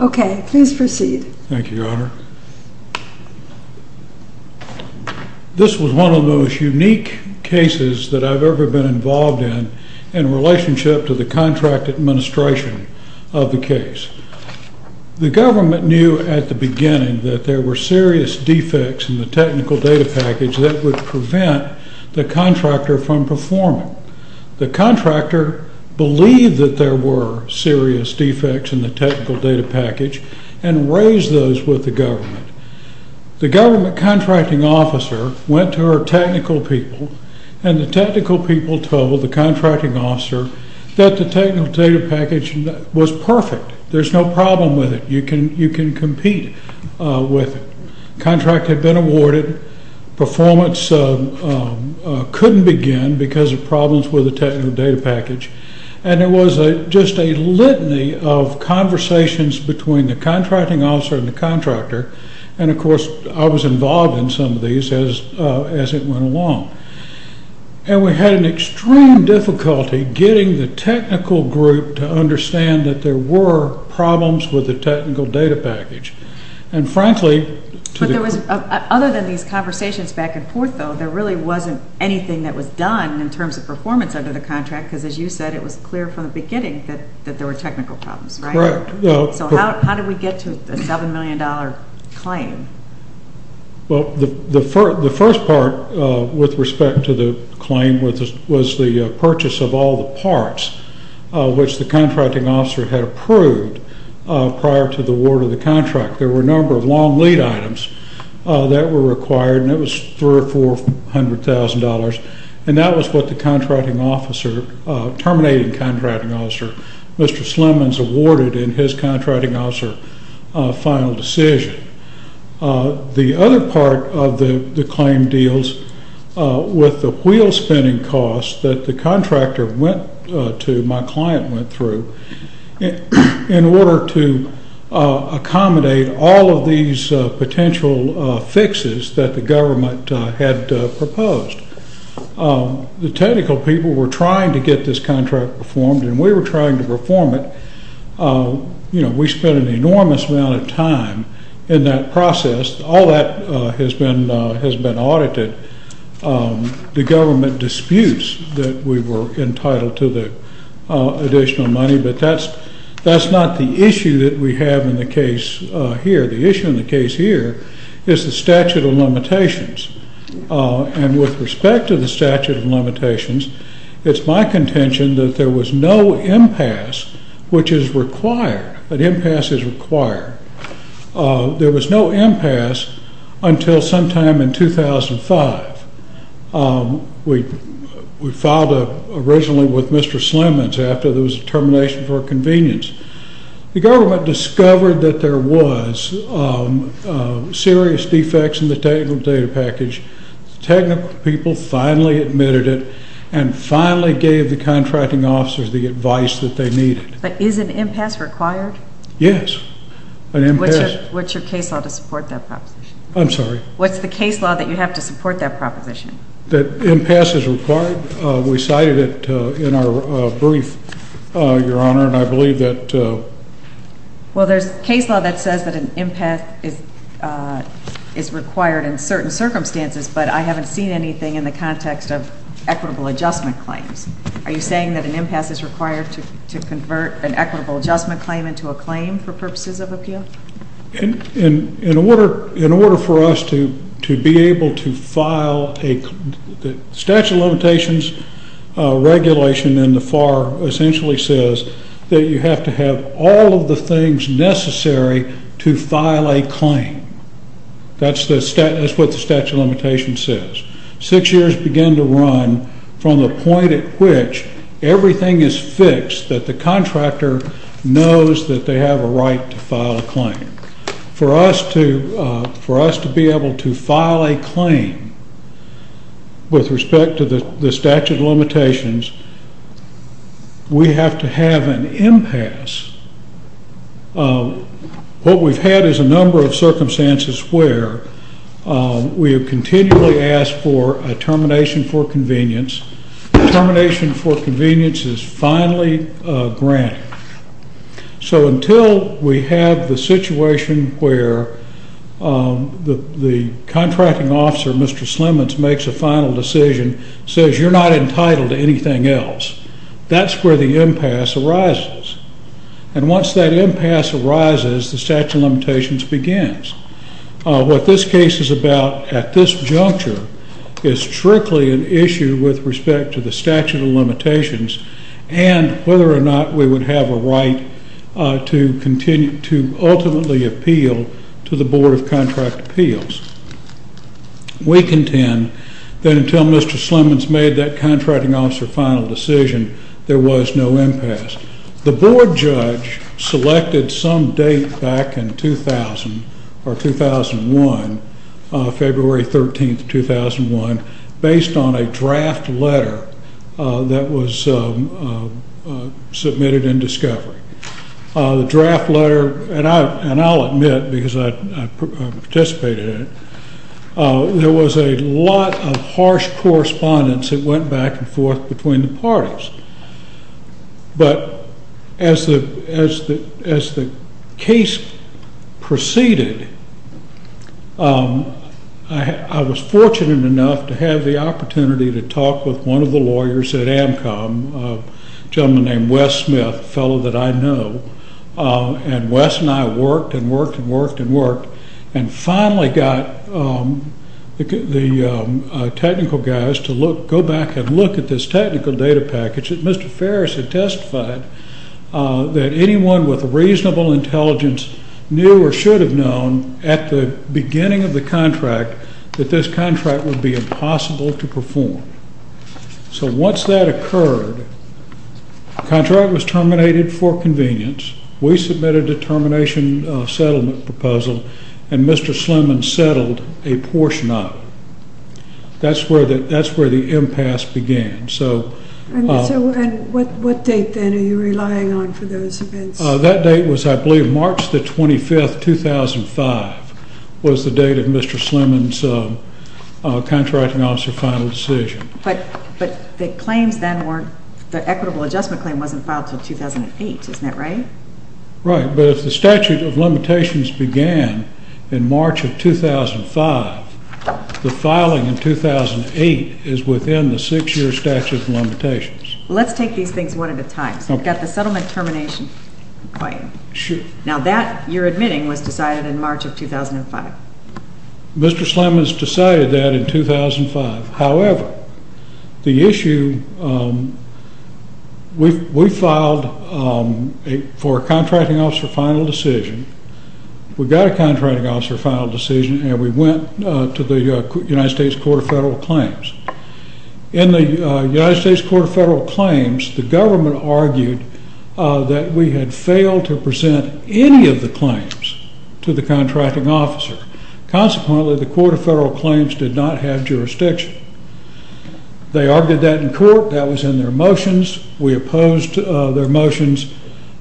Okay, please proceed. Thank you, Your Honor. This was one of the most unique cases that I've ever been involved in, in relationship to the contract administration of the case. The government knew at the beginning that there were serious defects in the technical data package that would prevent the contractor from performing. The contractor believed that there were serious defects in the technical data package and raised those with the government. The government contracting officer went to her technical people, and the technical people told the contracting officer that the technical data package was perfect. There's no problem with it. You can compete with it. Contract had been awarded. Performance couldn't begin because of problems with the technical data package. And there was just a litany of conversations between the contracting officer and the contractor. And, of course, I was involved in some of these as it went along. And we had an extreme difficulty getting the technical group to understand that there were problems with the technical data package. Other than these conversations back and forth, though, there really wasn't anything that was done in terms of performance under the contract because, as you said, it was clear from the beginning that there were technical problems, right? Correct. So how did we get to a $7 million claim? Well, the first part with respect to the claim was the purchase of all the parts which the contracting officer had approved prior to the award of the contract. There were a number of long lead items that were required, and it was $300,000 or $400,000. And that was what the terminating contracting officer, Mr. Slimans, awarded in his contracting officer final decision. The other part of the claim deals with the wheel spinning costs that the contractor went to, my client went through, in order to accommodate all of these potential fixes that the government had proposed. The technical people were trying to get this contract performed, and we were trying to perform it. We spent an enormous amount of time in that process. All that has been audited. The government disputes that we were entitled to the additional money, but that's not the issue that we have in the case here. The issue in the case here is the statute of limitations. And with respect to the statute of limitations, it's my contention that there was no impasse, which is required. An impasse is required. There was no impasse until sometime in 2005. We filed originally with Mr. Slimans after there was a termination for convenience. The government discovered that there was serious defects in the technical data package. Technical people finally admitted it and finally gave the contracting officers the advice that they needed. But is an impasse required? Yes. What's your case law to support that proposition? I'm sorry? What's the case law that you have to support that proposition? That impasse is required. We cited it in our brief, Your Honor, and I believe that Well, there's case law that says that an impasse is required in certain circumstances, but I haven't seen anything in the context of equitable adjustment claims. Are you saying that an impasse is required to convert an equitable adjustment claim into a claim for purposes of appeal? In order for us to be able to file a statute of limitations regulation in the FAR, it essentially says that you have to have all of the things necessary to file a claim. That's what the statute of limitations says. Six years begin to run from the point at which everything is fixed, that the contractor knows that they have a right to file a claim. For us to be able to file a claim with respect to the statute of limitations, we have to have an impasse. What we've had is a number of circumstances where we have continually asked for a termination for convenience. Termination for convenience is finally granted. So until we have the situation where the contracting officer, Mr. Slemons, makes a final decision, says you're not entitled to anything else, that's where the impasse arises. And once that impasse arises, the statute of limitations begins. What this case is about at this juncture is strictly an issue with respect to the statute of limitations and whether or not we would have a right to ultimately appeal to the Board of Contract Appeals. We contend that until Mr. Slemons made that contracting officer final decision, there was no impasse. The board judge selected some date back in 2000 or 2001, February 13th, 2001, based on a draft letter that was submitted in discovery. The draft letter, and I'll admit because I participated in it, there was a lot of harsh correspondence that went back and forth between the parties. But as the case proceeded, I was fortunate enough to have the opportunity to talk with one of the lawyers at AMCOM, a gentleman named Wes Smith, a fellow that I know, and Wes and I worked and worked and worked and worked and finally got the technical guys to go back and look at this technical data package. Mr. Ferris had testified that anyone with reasonable intelligence knew or should have known at the beginning of the contract that this contract would be impossible to perform. So once that occurred, the contract was terminated for convenience. We submitted a termination settlement proposal and Mr. Slemons settled a portion of it. That's where the impasse began. And what date then are you relying on for those events? That date was, I believe, March the 25th, 2005 was the date of Mr. Slemons' contracting officer final decision. But the claims then weren't, the equitable adjustment claim wasn't filed until 2008, isn't that right? Right, but if the statute of limitations began in March of 2005, the filing in 2008 is within the 6-year statute of limitations. Let's take these things one at a time. So you've got the settlement termination claim. Now that, you're admitting, was decided in March of 2005. Mr. Slemons decided that in 2005. However, the issue, we filed for a contracting officer final decision. We got a contracting officer final decision and we went to the United States Court of Federal Claims. In the United States Court of Federal Claims, the government argued that we had failed to present any of the claims to the contracting officer. Consequently, the Court of Federal Claims did not have jurisdiction. They argued that in court. That was in their motions. We opposed their motions.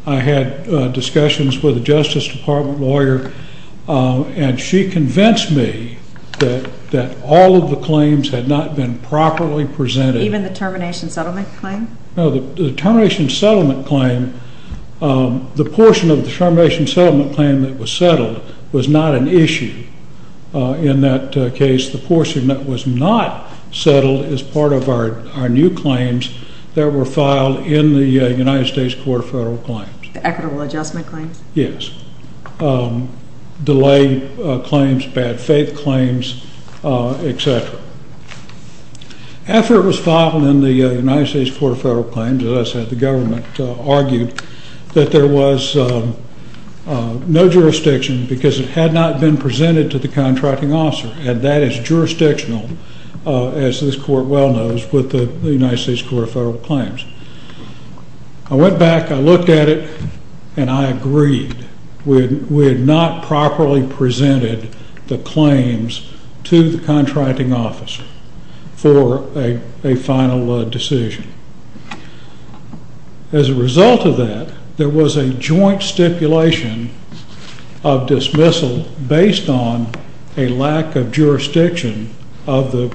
I had discussions with a Justice Department lawyer and she convinced me that all of the claims had not been properly presented. Even the termination settlement claim? No, the termination settlement claim, the portion of the termination settlement claim that was settled was not an issue. In that case, the portion that was not settled is part of our new claims that were filed in the United States Court of Federal Claims. The equitable adjustment claims? Yes. Delay claims, bad faith claims, etc. After it was filed in the United States Court of Federal Claims, as I said, the government argued that there was no jurisdiction because it had not been presented to the contracting officer. And that is jurisdictional, as this court well knows, with the United States Court of Federal Claims. I went back, I looked at it, and I agreed. We had not properly presented the claims to the contracting officer for a final decision. As a result of that, there was a joint stipulation of dismissal based on a lack of jurisdiction of the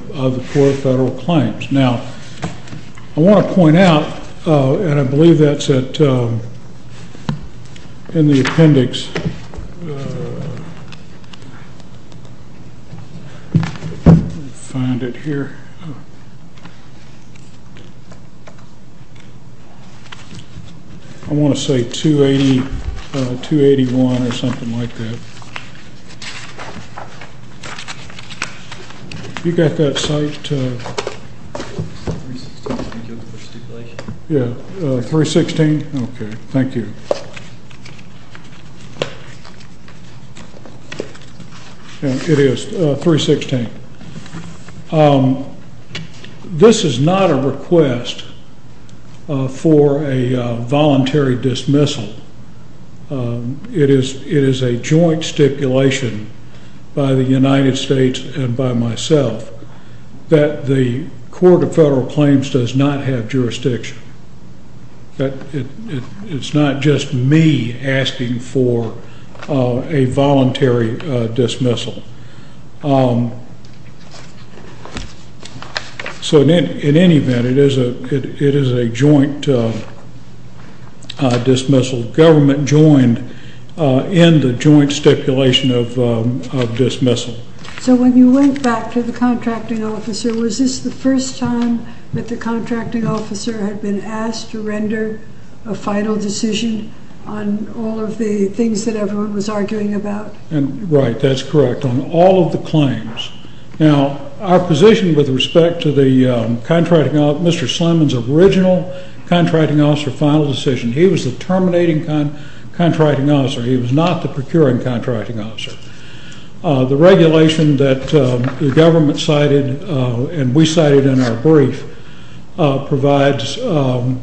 Court of Federal Claims. Now, I want to point out, and I believe that's in the appendix, I want to say 281 or something like that. You got that cite? Yeah, 316? Okay, thank you. It is 316. This is not a request for a voluntary dismissal. It is a joint stipulation by the United States and by myself that the Court of Federal Claims does not have jurisdiction. It's not just me asking for a voluntary dismissal. So in any event, it is a joint dismissal. Government joined in the joint stipulation of dismissal. So when you went back to the contracting officer, was this the first time that the contracting officer had been asked to render a final decision on all of the things that everyone was arguing about? Right, that's correct, on all of the claims. Now, our position with respect to Mr. Sliman's original contracting officer final decision, he was the terminating contracting officer. He was not the procuring contracting officer. The regulation that the government cited and we cited in our brief provides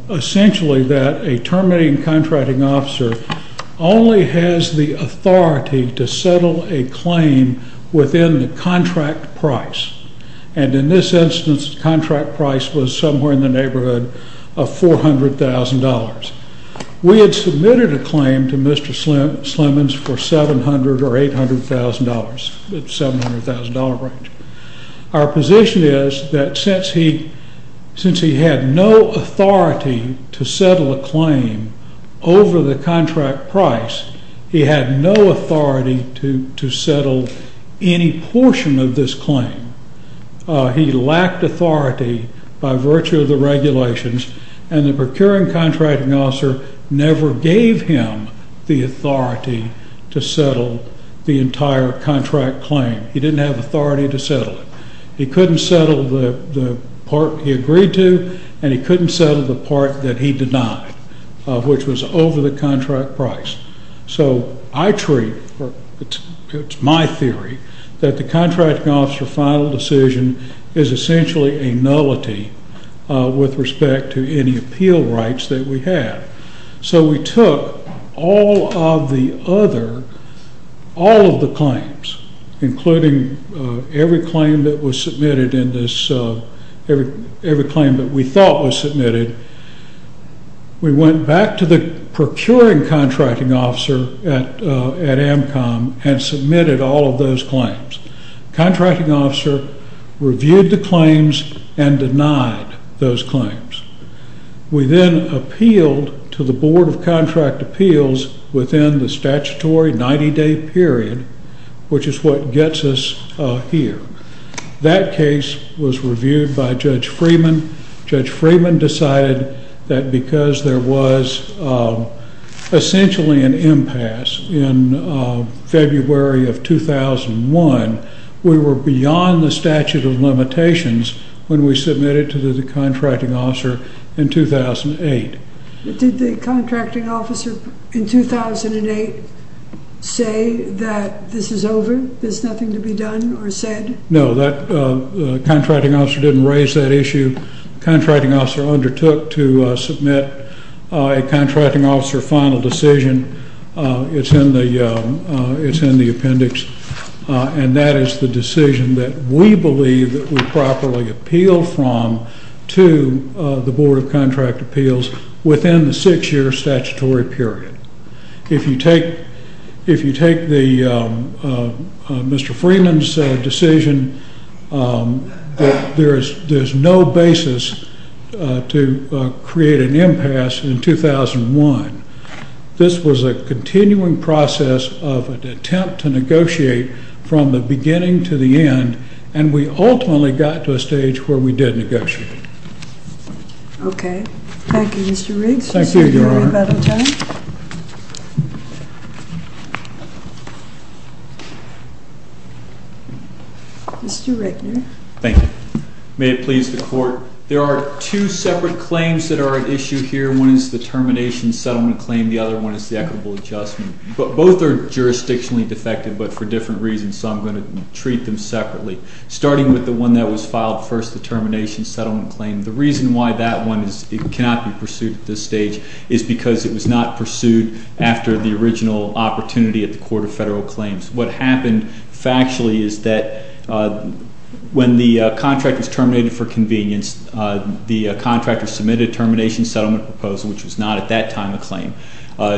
essentially that a terminating contracting officer only has the authority to settle a claim within the contract price. And in this instance, the contract price was somewhere in the neighborhood of $400,000. We had submitted a claim to Mr. Sliman's for $700,000 or $800,000, the $700,000 range. Our position is that since he had no authority to settle a claim over the contract price, he had no authority to settle any portion of this claim. He lacked authority by virtue of the regulations, and the procuring contracting officer never gave him the authority to settle the entire contract claim. He didn't have authority to settle it. He couldn't settle the part he agreed to, and he couldn't settle the part that he denied, which was over the contract price. So I treat, it's my theory, that the contracting officer final decision is essentially a nullity with respect to any appeal rights that we have. So we took all of the other, all of the claims, including every claim that was submitted in this, every claim that we thought was submitted. We went back to the procuring contracting officer at AMCOM and submitted all of those claims. Contracting officer reviewed the claims and denied those claims. We then appealed to the Board of Contract Appeals within the statutory 90-day period, which is what gets us here. That case was reviewed by Judge Freeman. Judge Freeman decided that because there was essentially an impasse in February of 2001, we were beyond the statute of limitations when we submitted to the contracting officer in 2008. Did the contracting officer in 2008 say that this is over, there's nothing to be done or said? No, the contracting officer didn't raise that issue. The contracting officer undertook to submit a contracting officer final decision. It's in the appendix, and that is the decision that we believe that we properly appeal from to the Board of Contract Appeals within the 6-year statutory period. If you take the, Mr. Freeman's decision, there's no basis to create an impasse in 2001. This was a continuing process of an attempt to negotiate from the beginning to the end, and we ultimately got to a stage where we did negotiate. Okay. Thank you, Mr. Riggs. Thank you, Your Honor. Mr. Rigner. Thank you. May it please the Court, there are two separate claims that are at issue here. One is the termination settlement claim. The other one is the equitable adjustment. Both are jurisdictionally defective, but for different reasons, so I'm going to treat them separately. Starting with the one that was filed first, the termination settlement claim, the reason why that one cannot be pursued at this stage is because it was not pursued after the original opportunity at the Court of Federal Claims. What happened factually is that when the contract was terminated for convenience, the contractor submitted a termination settlement proposal, which was not at that time a claim.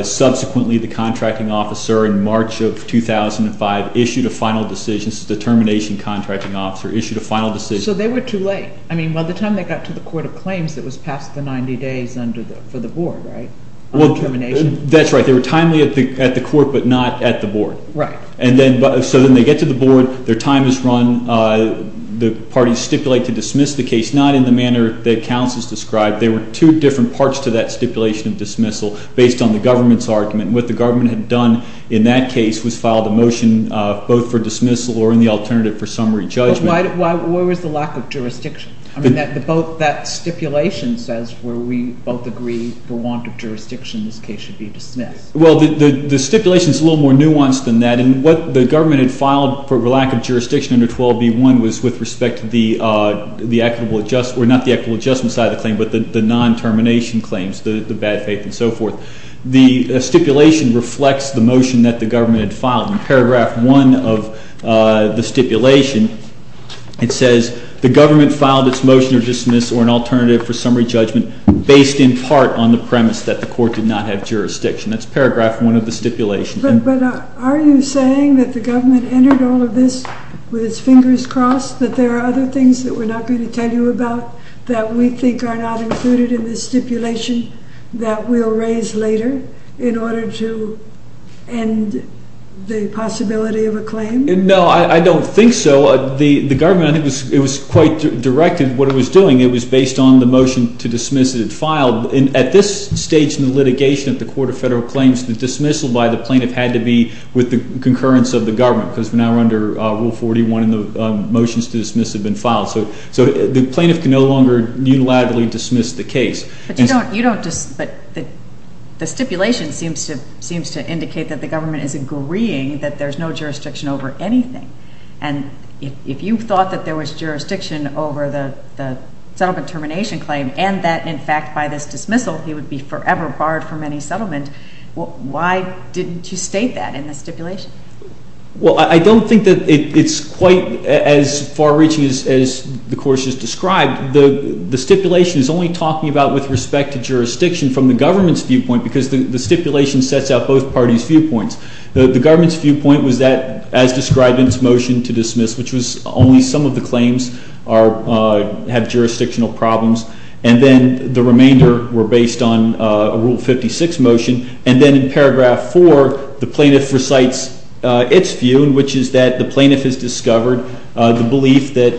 Subsequently, the contracting officer in March of 2005 issued a final decision. This is the termination contracting officer issued a final decision. So they were too late. I mean, by the time they got to the Court of Claims, it was past the 90 days for the board, right, on termination? That's right. They were timely at the court, but not at the board. Right. So then they get to the board. Their time is run. The parties stipulate to dismiss the case, not in the manner that counsel has described. They were two different parts to that stipulation of dismissal based on the government's argument. And what the government had done in that case was filed a motion both for dismissal or in the alternative for summary judgment. But why was the lack of jurisdiction? I mean, that stipulation says where we both agree for want of jurisdiction, this case should be dismissed. Well, the stipulation is a little more nuanced than that. And what the government had filed for lack of jurisdiction under 12B1 was with respect to the equitable adjustment or not the equitable adjustment side of the claim but the non-termination claims, the bad faith and so forth. The stipulation reflects the motion that the government had filed. In paragraph 1 of the stipulation, it says the government filed its motion to dismiss or an alternative for summary judgment based in part on the premise that the court did not have jurisdiction. That's paragraph 1 of the stipulation. But are you saying that the government entered all of this with its fingers crossed, that there are other things that we're not going to tell you about that we think are not included in the stipulation that we'll raise later in order to end the possibility of a claim? No, I don't think so. The government, I think it was quite direct in what it was doing. It was based on the motion to dismiss that it filed. At this stage in the litigation at the Court of Federal Claims, the dismissal by the plaintiff had to be with the concurrence of the government because we're now under Rule 41 and the motions to dismiss have been filed. So the plaintiff can no longer unilaterally dismiss the case. But the stipulation seems to indicate that the government is agreeing that there's no jurisdiction over anything. And if you thought that there was jurisdiction over the settlement termination claim and that, in fact, by this dismissal he would be forever barred from any settlement, why didn't you state that in the stipulation? Well, I don't think that it's quite as far-reaching as the Court just described. The stipulation is only talking about with respect to jurisdiction from the government's viewpoint because the stipulation sets out both parties' viewpoints. The government's viewpoint was that, as described in its motion to dismiss, which was only some of the claims have jurisdictional problems, and then the remainder were based on a Rule 56 motion. And then in paragraph 4, the plaintiff recites its view, which is that the plaintiff has discovered the belief that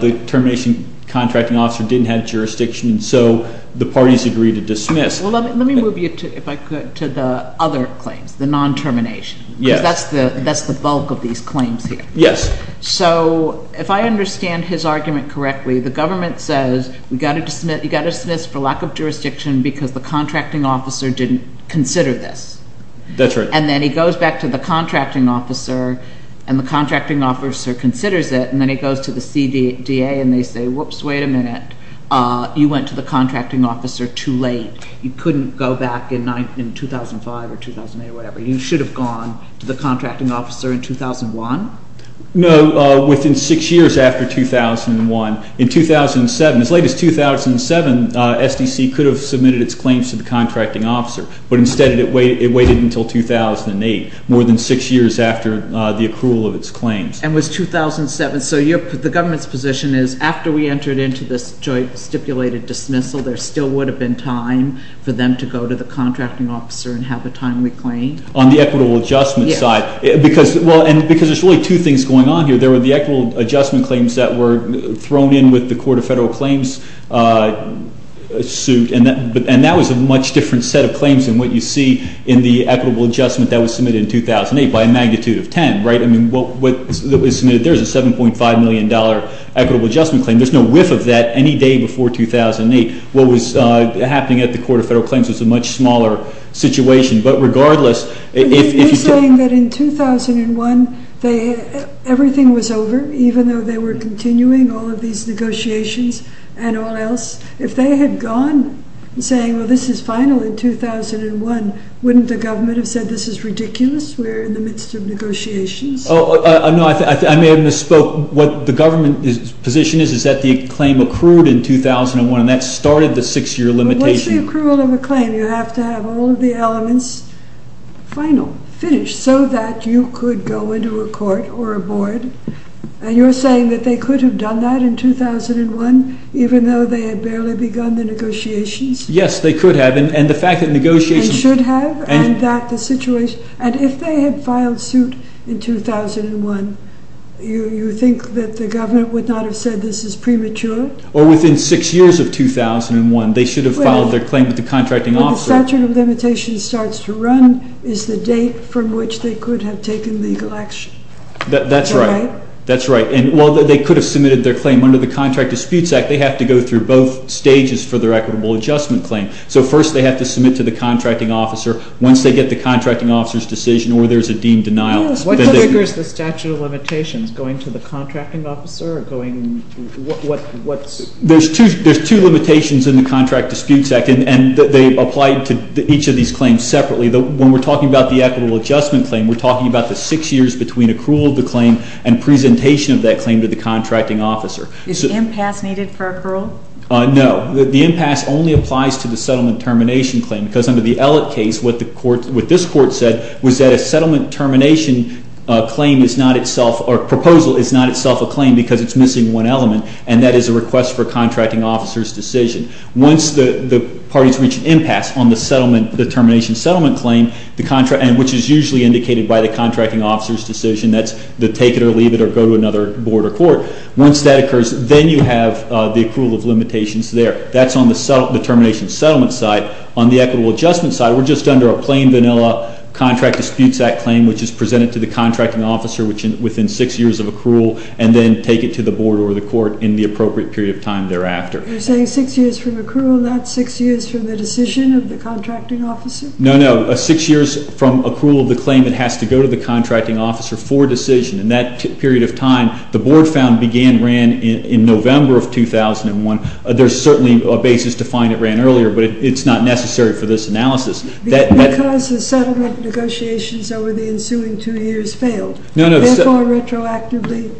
the termination contracting officer didn't have jurisdiction, and so the parties agree to dismiss. Well, let me move you, if I could, to the other claims, the non-termination. Yes. Because that's the bulk of these claims here. Yes. So if I understand his argument correctly, the government says you've got to dismiss for lack of jurisdiction because the contracting officer didn't consider this. That's right. And then he goes back to the contracting officer, and the contracting officer considers it, and then he goes to the CDA and they say, whoops, wait a minute, you went to the contracting officer too late. You couldn't go back in 2005 or 2008 or whatever. You should have gone to the contracting officer in 2001. No, within six years after 2001. In 2007, as late as 2007, SDC could have submitted its claims to the contracting officer, but instead it waited until 2008, more than six years after the accrual of its claims. And it was 2007. So the government's position is after we entered into this joint stipulated dismissal, there still would have been time for them to go to the contracting officer and have a timely claim. On the equitable adjustment side. Yes. Because there's really two things going on here. There were the equitable adjustment claims that were thrown in with the Court of Federal Claims suit, and that was a much different set of claims than what you see in the equitable adjustment that was submitted in 2008 by a magnitude of 10, right? I mean, what was submitted there is a $7.5 million equitable adjustment claim. There's no whiff of that any day before 2008. What was happening at the Court of Federal Claims was a much smaller situation. But regardless, if you said – But if you're saying that in 2001 everything was over, even though they were continuing all of these negotiations and all else, if they had gone saying, well, this is final in 2001, wouldn't the government have said this is ridiculous? We're in the midst of negotiations. No, I may have misspoke. What the government's position is is that the claim accrued in 2001, and that started the six-year limitation. But what's the accrual of a claim? You have to have all of the elements final, finished, so that you could go into a court or a board. And you're saying that they could have done that in 2001, even though they had barely begun the negotiations? Yes, they could have. And the fact that negotiations – They should have, and that the situation – And if they had filed suit in 2001, you think that the government would not have said this is premature? Or within six years of 2001, they should have filed their claim with the contracting officer. When the statute of limitations starts to run is the date from which they could have taken legal action. That's right. Is that right? That's right. And while they could have submitted their claim under the Contract Disputes Act, they have to go through both stages for their equitable adjustment claim. So first they have to submit to the contracting officer. Once they get the contracting officer's decision or there's a deemed denial. What triggers the statute of limitations, going to the contracting officer or going – what's – There's two limitations in the Contract Disputes Act, and they apply to each of these claims separately. When we're talking about the equitable adjustment claim, we're talking about the six years between accrual of the claim and presentation of that claim to the contracting officer. Is impasse needed for accrual? No. The impasse only applies to the settlement termination claim, because under the Ellett case, what the court – what this court said was that a settlement termination claim is not itself – or proposal is not itself a claim because it's missing one element, and that is a request for a contracting officer's decision. Once the parties reach an impasse on the settlement – the termination settlement claim, the – and which is usually indicated by the contracting officer's decision. That's the take it or leave it or go to another board or court. Once that occurs, then you have the accrual of limitations there. That's on the termination settlement side. On the equitable adjustment side, we're just under a plain vanilla Contract Disputes Act claim, which is presented to the contracting officer within six years of accrual and then take it to the board or the court in the appropriate period of time thereafter. You're saying six years from accrual, not six years from the decision of the contracting officer? No, no. Six years from accrual of the claim, it has to go to the contracting officer for decision. In that period of time, the board found began – ran in November of 2001. There's certainly a basis to find it ran earlier, but it's not necessary for this analysis. Because the settlement negotiations over the ensuing two years failed. No, no. Therefore, retroactively,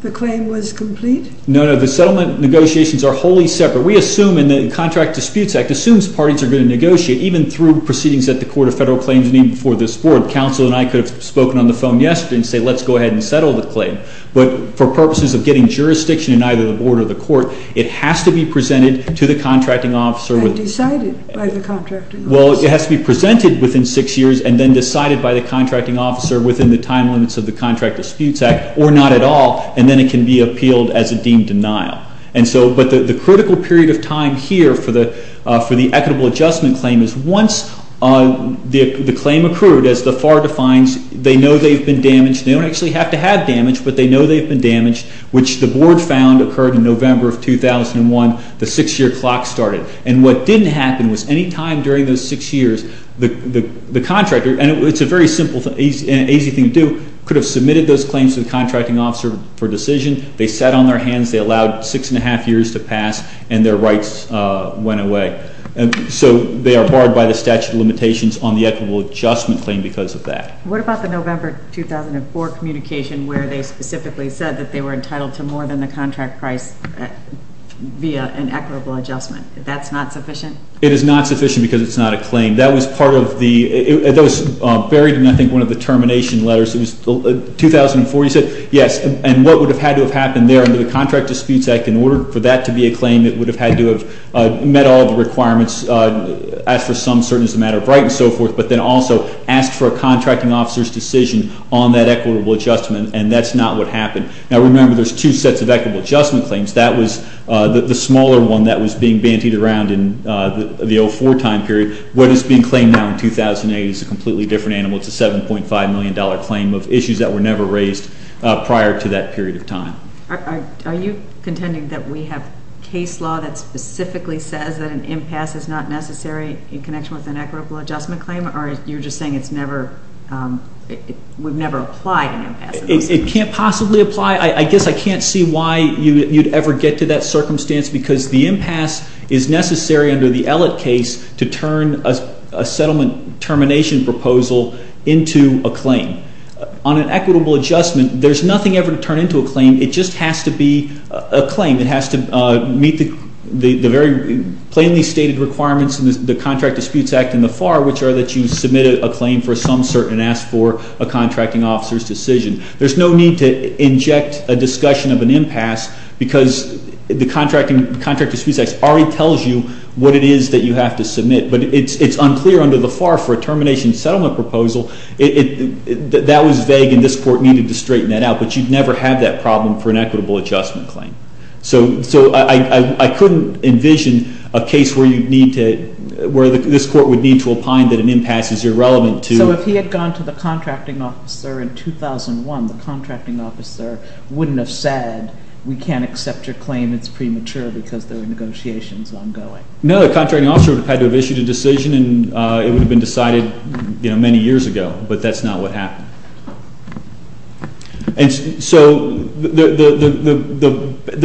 the claim was complete? No, no. The settlement negotiations are wholly separate. We assume in the Contract Disputes Act, assumes parties are going to negotiate, even through proceedings at the Court of Federal Claims and even before this board. Counsel and I could have spoken on the phone yesterday and say, let's go ahead and settle the claim. But for purposes of getting jurisdiction in either the board or the court, it has to be presented to the contracting officer. And decided by the contracting officer. Well, it has to be presented within six years and then decided by the contracting officer within the time limits of the Contract Disputes Act, or not at all. And then it can be appealed as a deemed denial. And so – but the critical period of time here for the equitable adjustment claim is once the claim accrued, as the FAR defines, they know they've been damaged. They don't actually have to have damage, but they know they've been damaged, which the board found occurred in November of 2001. The six-year clock started. And what didn't happen was any time during those six years, the contractor – and it's a very simple and easy thing to do – could have submitted those claims to the contracting officer for decision. They sat on their hands. They allowed six and a half years to pass. And their rights went away. So they are barred by the statute of limitations on the equitable adjustment claim because of that. What about the November 2004 communication where they specifically said that they were entitled to more than the contract price via an equitable adjustment? That's not sufficient? It is not sufficient because it's not a claim. That was part of the – it was buried in, I think, one of the termination letters. It was 2004. You said, yes. And what would have had to have happened there under the Contract Disputes Act in order for that to be a claim, it would have had to have met all the requirements, asked for some certainty as a matter of right and so forth, but then also asked for a contracting officer's decision on that equitable adjustment, and that's not what happened. Now, remember, there's two sets of equitable adjustment claims. That was the smaller one that was being bantied around in the 2004 time period. What is being claimed now in 2008 is a completely different animal. It's a $7.5 million claim of issues that were never raised prior to that period of time. Are you contending that we have case law that specifically says that an impasse is not necessary in connection with an equitable adjustment claim, or you're just saying it's never – it would never apply to an impasse? It can't possibly apply. I guess I can't see why you'd ever get to that circumstance because the impasse is necessary under the Ellett case to turn a settlement termination proposal into a claim. On an equitable adjustment, there's nothing ever to turn into a claim. It just has to be a claim. It has to meet the very plainly stated requirements in the Contract Disputes Act and the FAR, which are that you submit a claim for some certain and ask for a contracting officer's decision. There's no need to inject a discussion of an impasse because the Contract Disputes Act already tells you what it is that you have to submit, but it's unclear under the FAR for a termination settlement proposal. That was vague, and this Court needed to straighten that out, but you'd never have that problem for an equitable adjustment claim. So I couldn't envision a case where you'd need to – where this Court would need to opine that an impasse is irrelevant to – So if he had gone to the contracting officer in 2001, the contracting officer wouldn't have said we can't accept your claim. It's premature because the negotiation is ongoing. No, the contracting officer would have had to have issued a decision, and it would have been decided many years ago, but that's not what happened. And so the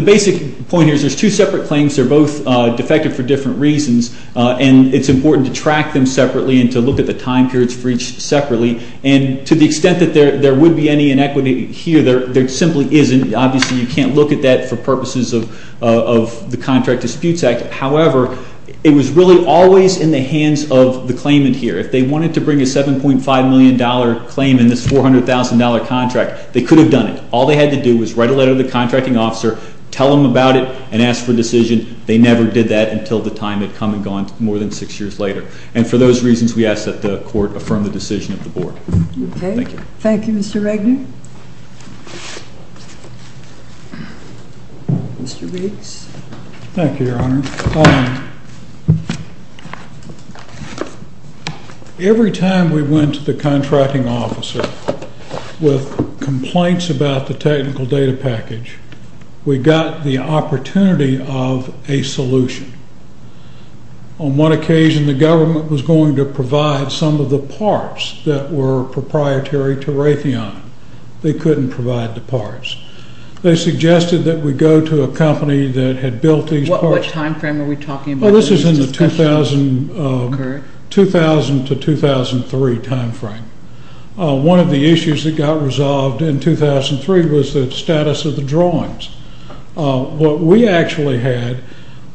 basic point here is there's two separate claims. They're both defected for different reasons, and it's important to track them separately and to look at the time periods for each separately. And to the extent that there would be any inequity here, there simply isn't. Obviously, you can't look at that for purposes of the Contract Disputes Act. However, it was really always in the hands of the claimant here. If they wanted to bring a $7.5 million claim in this $400,000 contract, they could have done it. All they had to do was write a letter to the contracting officer, tell them about it, and ask for a decision. They never did that until the time had come and gone more than six years later. And for those reasons, we ask that the Court affirm the decision of the Board. Okay. Thank you. Thank you, Mr. Wagner. Mr. Riggs. Thank you, Your Honor. Every time we went to the contracting officer with complaints about the technical data package, we got the opportunity of a solution. On one occasion, the government was going to provide some of the parts that were proprietary to Raytheon. They couldn't provide the parts. They suggested that we go to a company that had built these parts. What time frame are we talking about? This is in the 2000 to 2003 time frame. One of the issues that got resolved in 2003 was the status of the drawings. What we actually had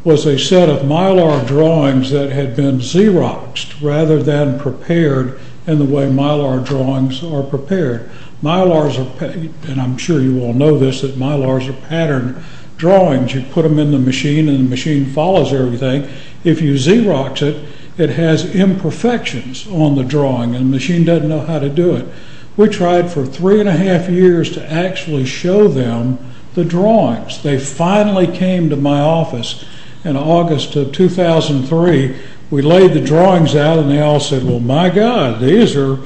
was a set of Mylar drawings that had been Xeroxed rather than prepared in the way Mylar drawings are prepared. Mylars are, and I'm sure you all know this, that Mylars are patterned drawings. You put them in the machine and the machine follows everything. If you Xerox it, it has imperfections on the drawing and the machine doesn't know how to do it. We tried for three and a half years to actually show them the drawings. They finally came to my office in August of 2003. We laid the drawings out and they all said, well, my God, these are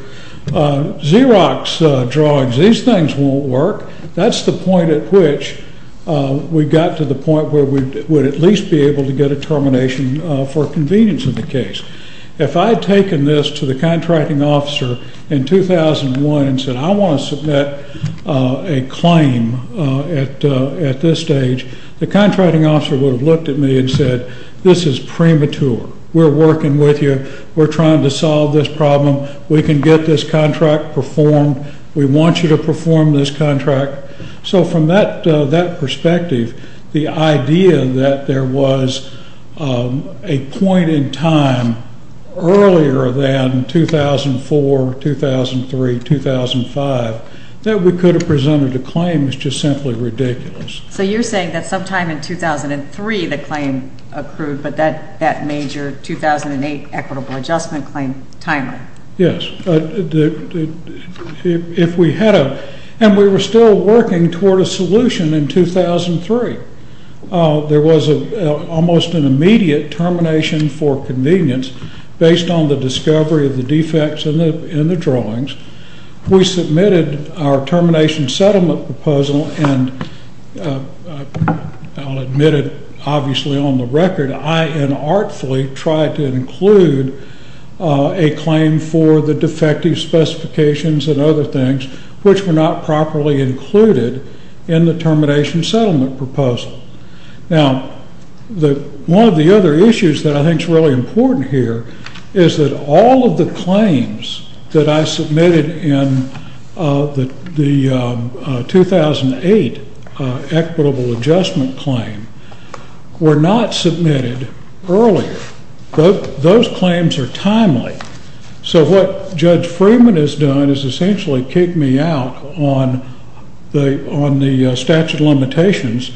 Xerox drawings. These things won't work. That's the point at which we got to the point where we would at least be able to get a termination for convenience in the case. If I had taken this to the contracting officer in 2001 and said, I want to submit a claim at this stage, the contracting officer would have looked at me and said, this is premature. We're working with you. We're trying to solve this problem. We can get this contract performed. We want you to perform this contract. So from that perspective, the idea that there was a point in time earlier than 2004, 2003, 2005, that we could have presented a claim is just simply ridiculous. So you're saying that sometime in 2003 the claim accrued, but that major 2008 equitable adjustment claim, timely. Yes. If we had a, and we were still working toward a solution in 2003, there was almost an immediate termination for convenience based on the discovery of the defects in the drawings. We submitted our termination settlement proposal and I'll admit it obviously on the record, that I inartfully tried to include a claim for the defective specifications and other things, which were not properly included in the termination settlement proposal. Now, one of the other issues that I think is really important here is that all of the claims that I submitted in the 2008 equitable adjustment claim were not submitted earlier. Those claims are timely. So what Judge Freeman has done is essentially kicked me out on the statute of limitations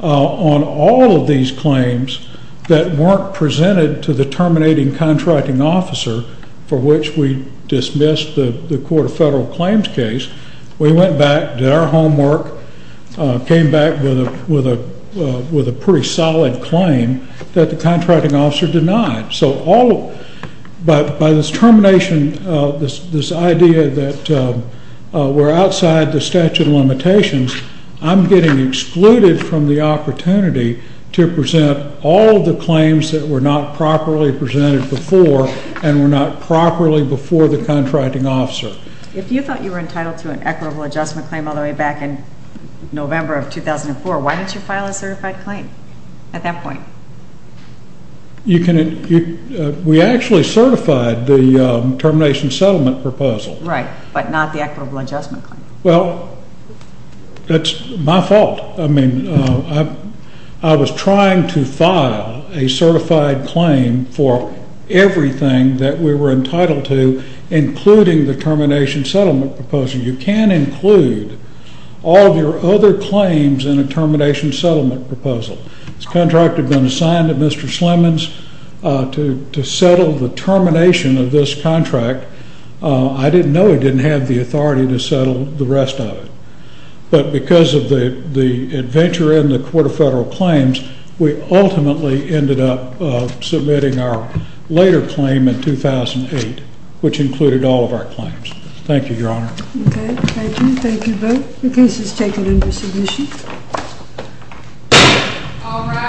on all of these claims that weren't presented to the terminating contracting officer for which we dismissed the court of federal claims case. We went back, did our homework, came back with a pretty solid claim that the contracting officer denied. So all, by this termination, this idea that we're outside the statute of limitations, I'm getting excluded from the opportunity to present all the claims that were not properly presented before and were not properly before the contracting officer. If you thought you were entitled to an equitable adjustment claim all the way back in November of 2004, why didn't you file a certified claim at that point? We actually certified the termination settlement proposal. Right, but not the equitable adjustment claim. Well, that's my fault. I mean, I was trying to file a certified claim for everything that we were entitled to, including the termination settlement proposal. You can include all of your other claims in a termination settlement proposal. This contract had been assigned to Mr. Slemons to settle the termination of this contract. I didn't know he didn't have the authority to settle the rest of it. But because of the adventure in the court of federal claims, we ultimately ended up submitting our later claim in 2008, which included all of our claims. Thank you, Your Honor. Okay, thank you. Thank you both. The case is taken under submission. All rise.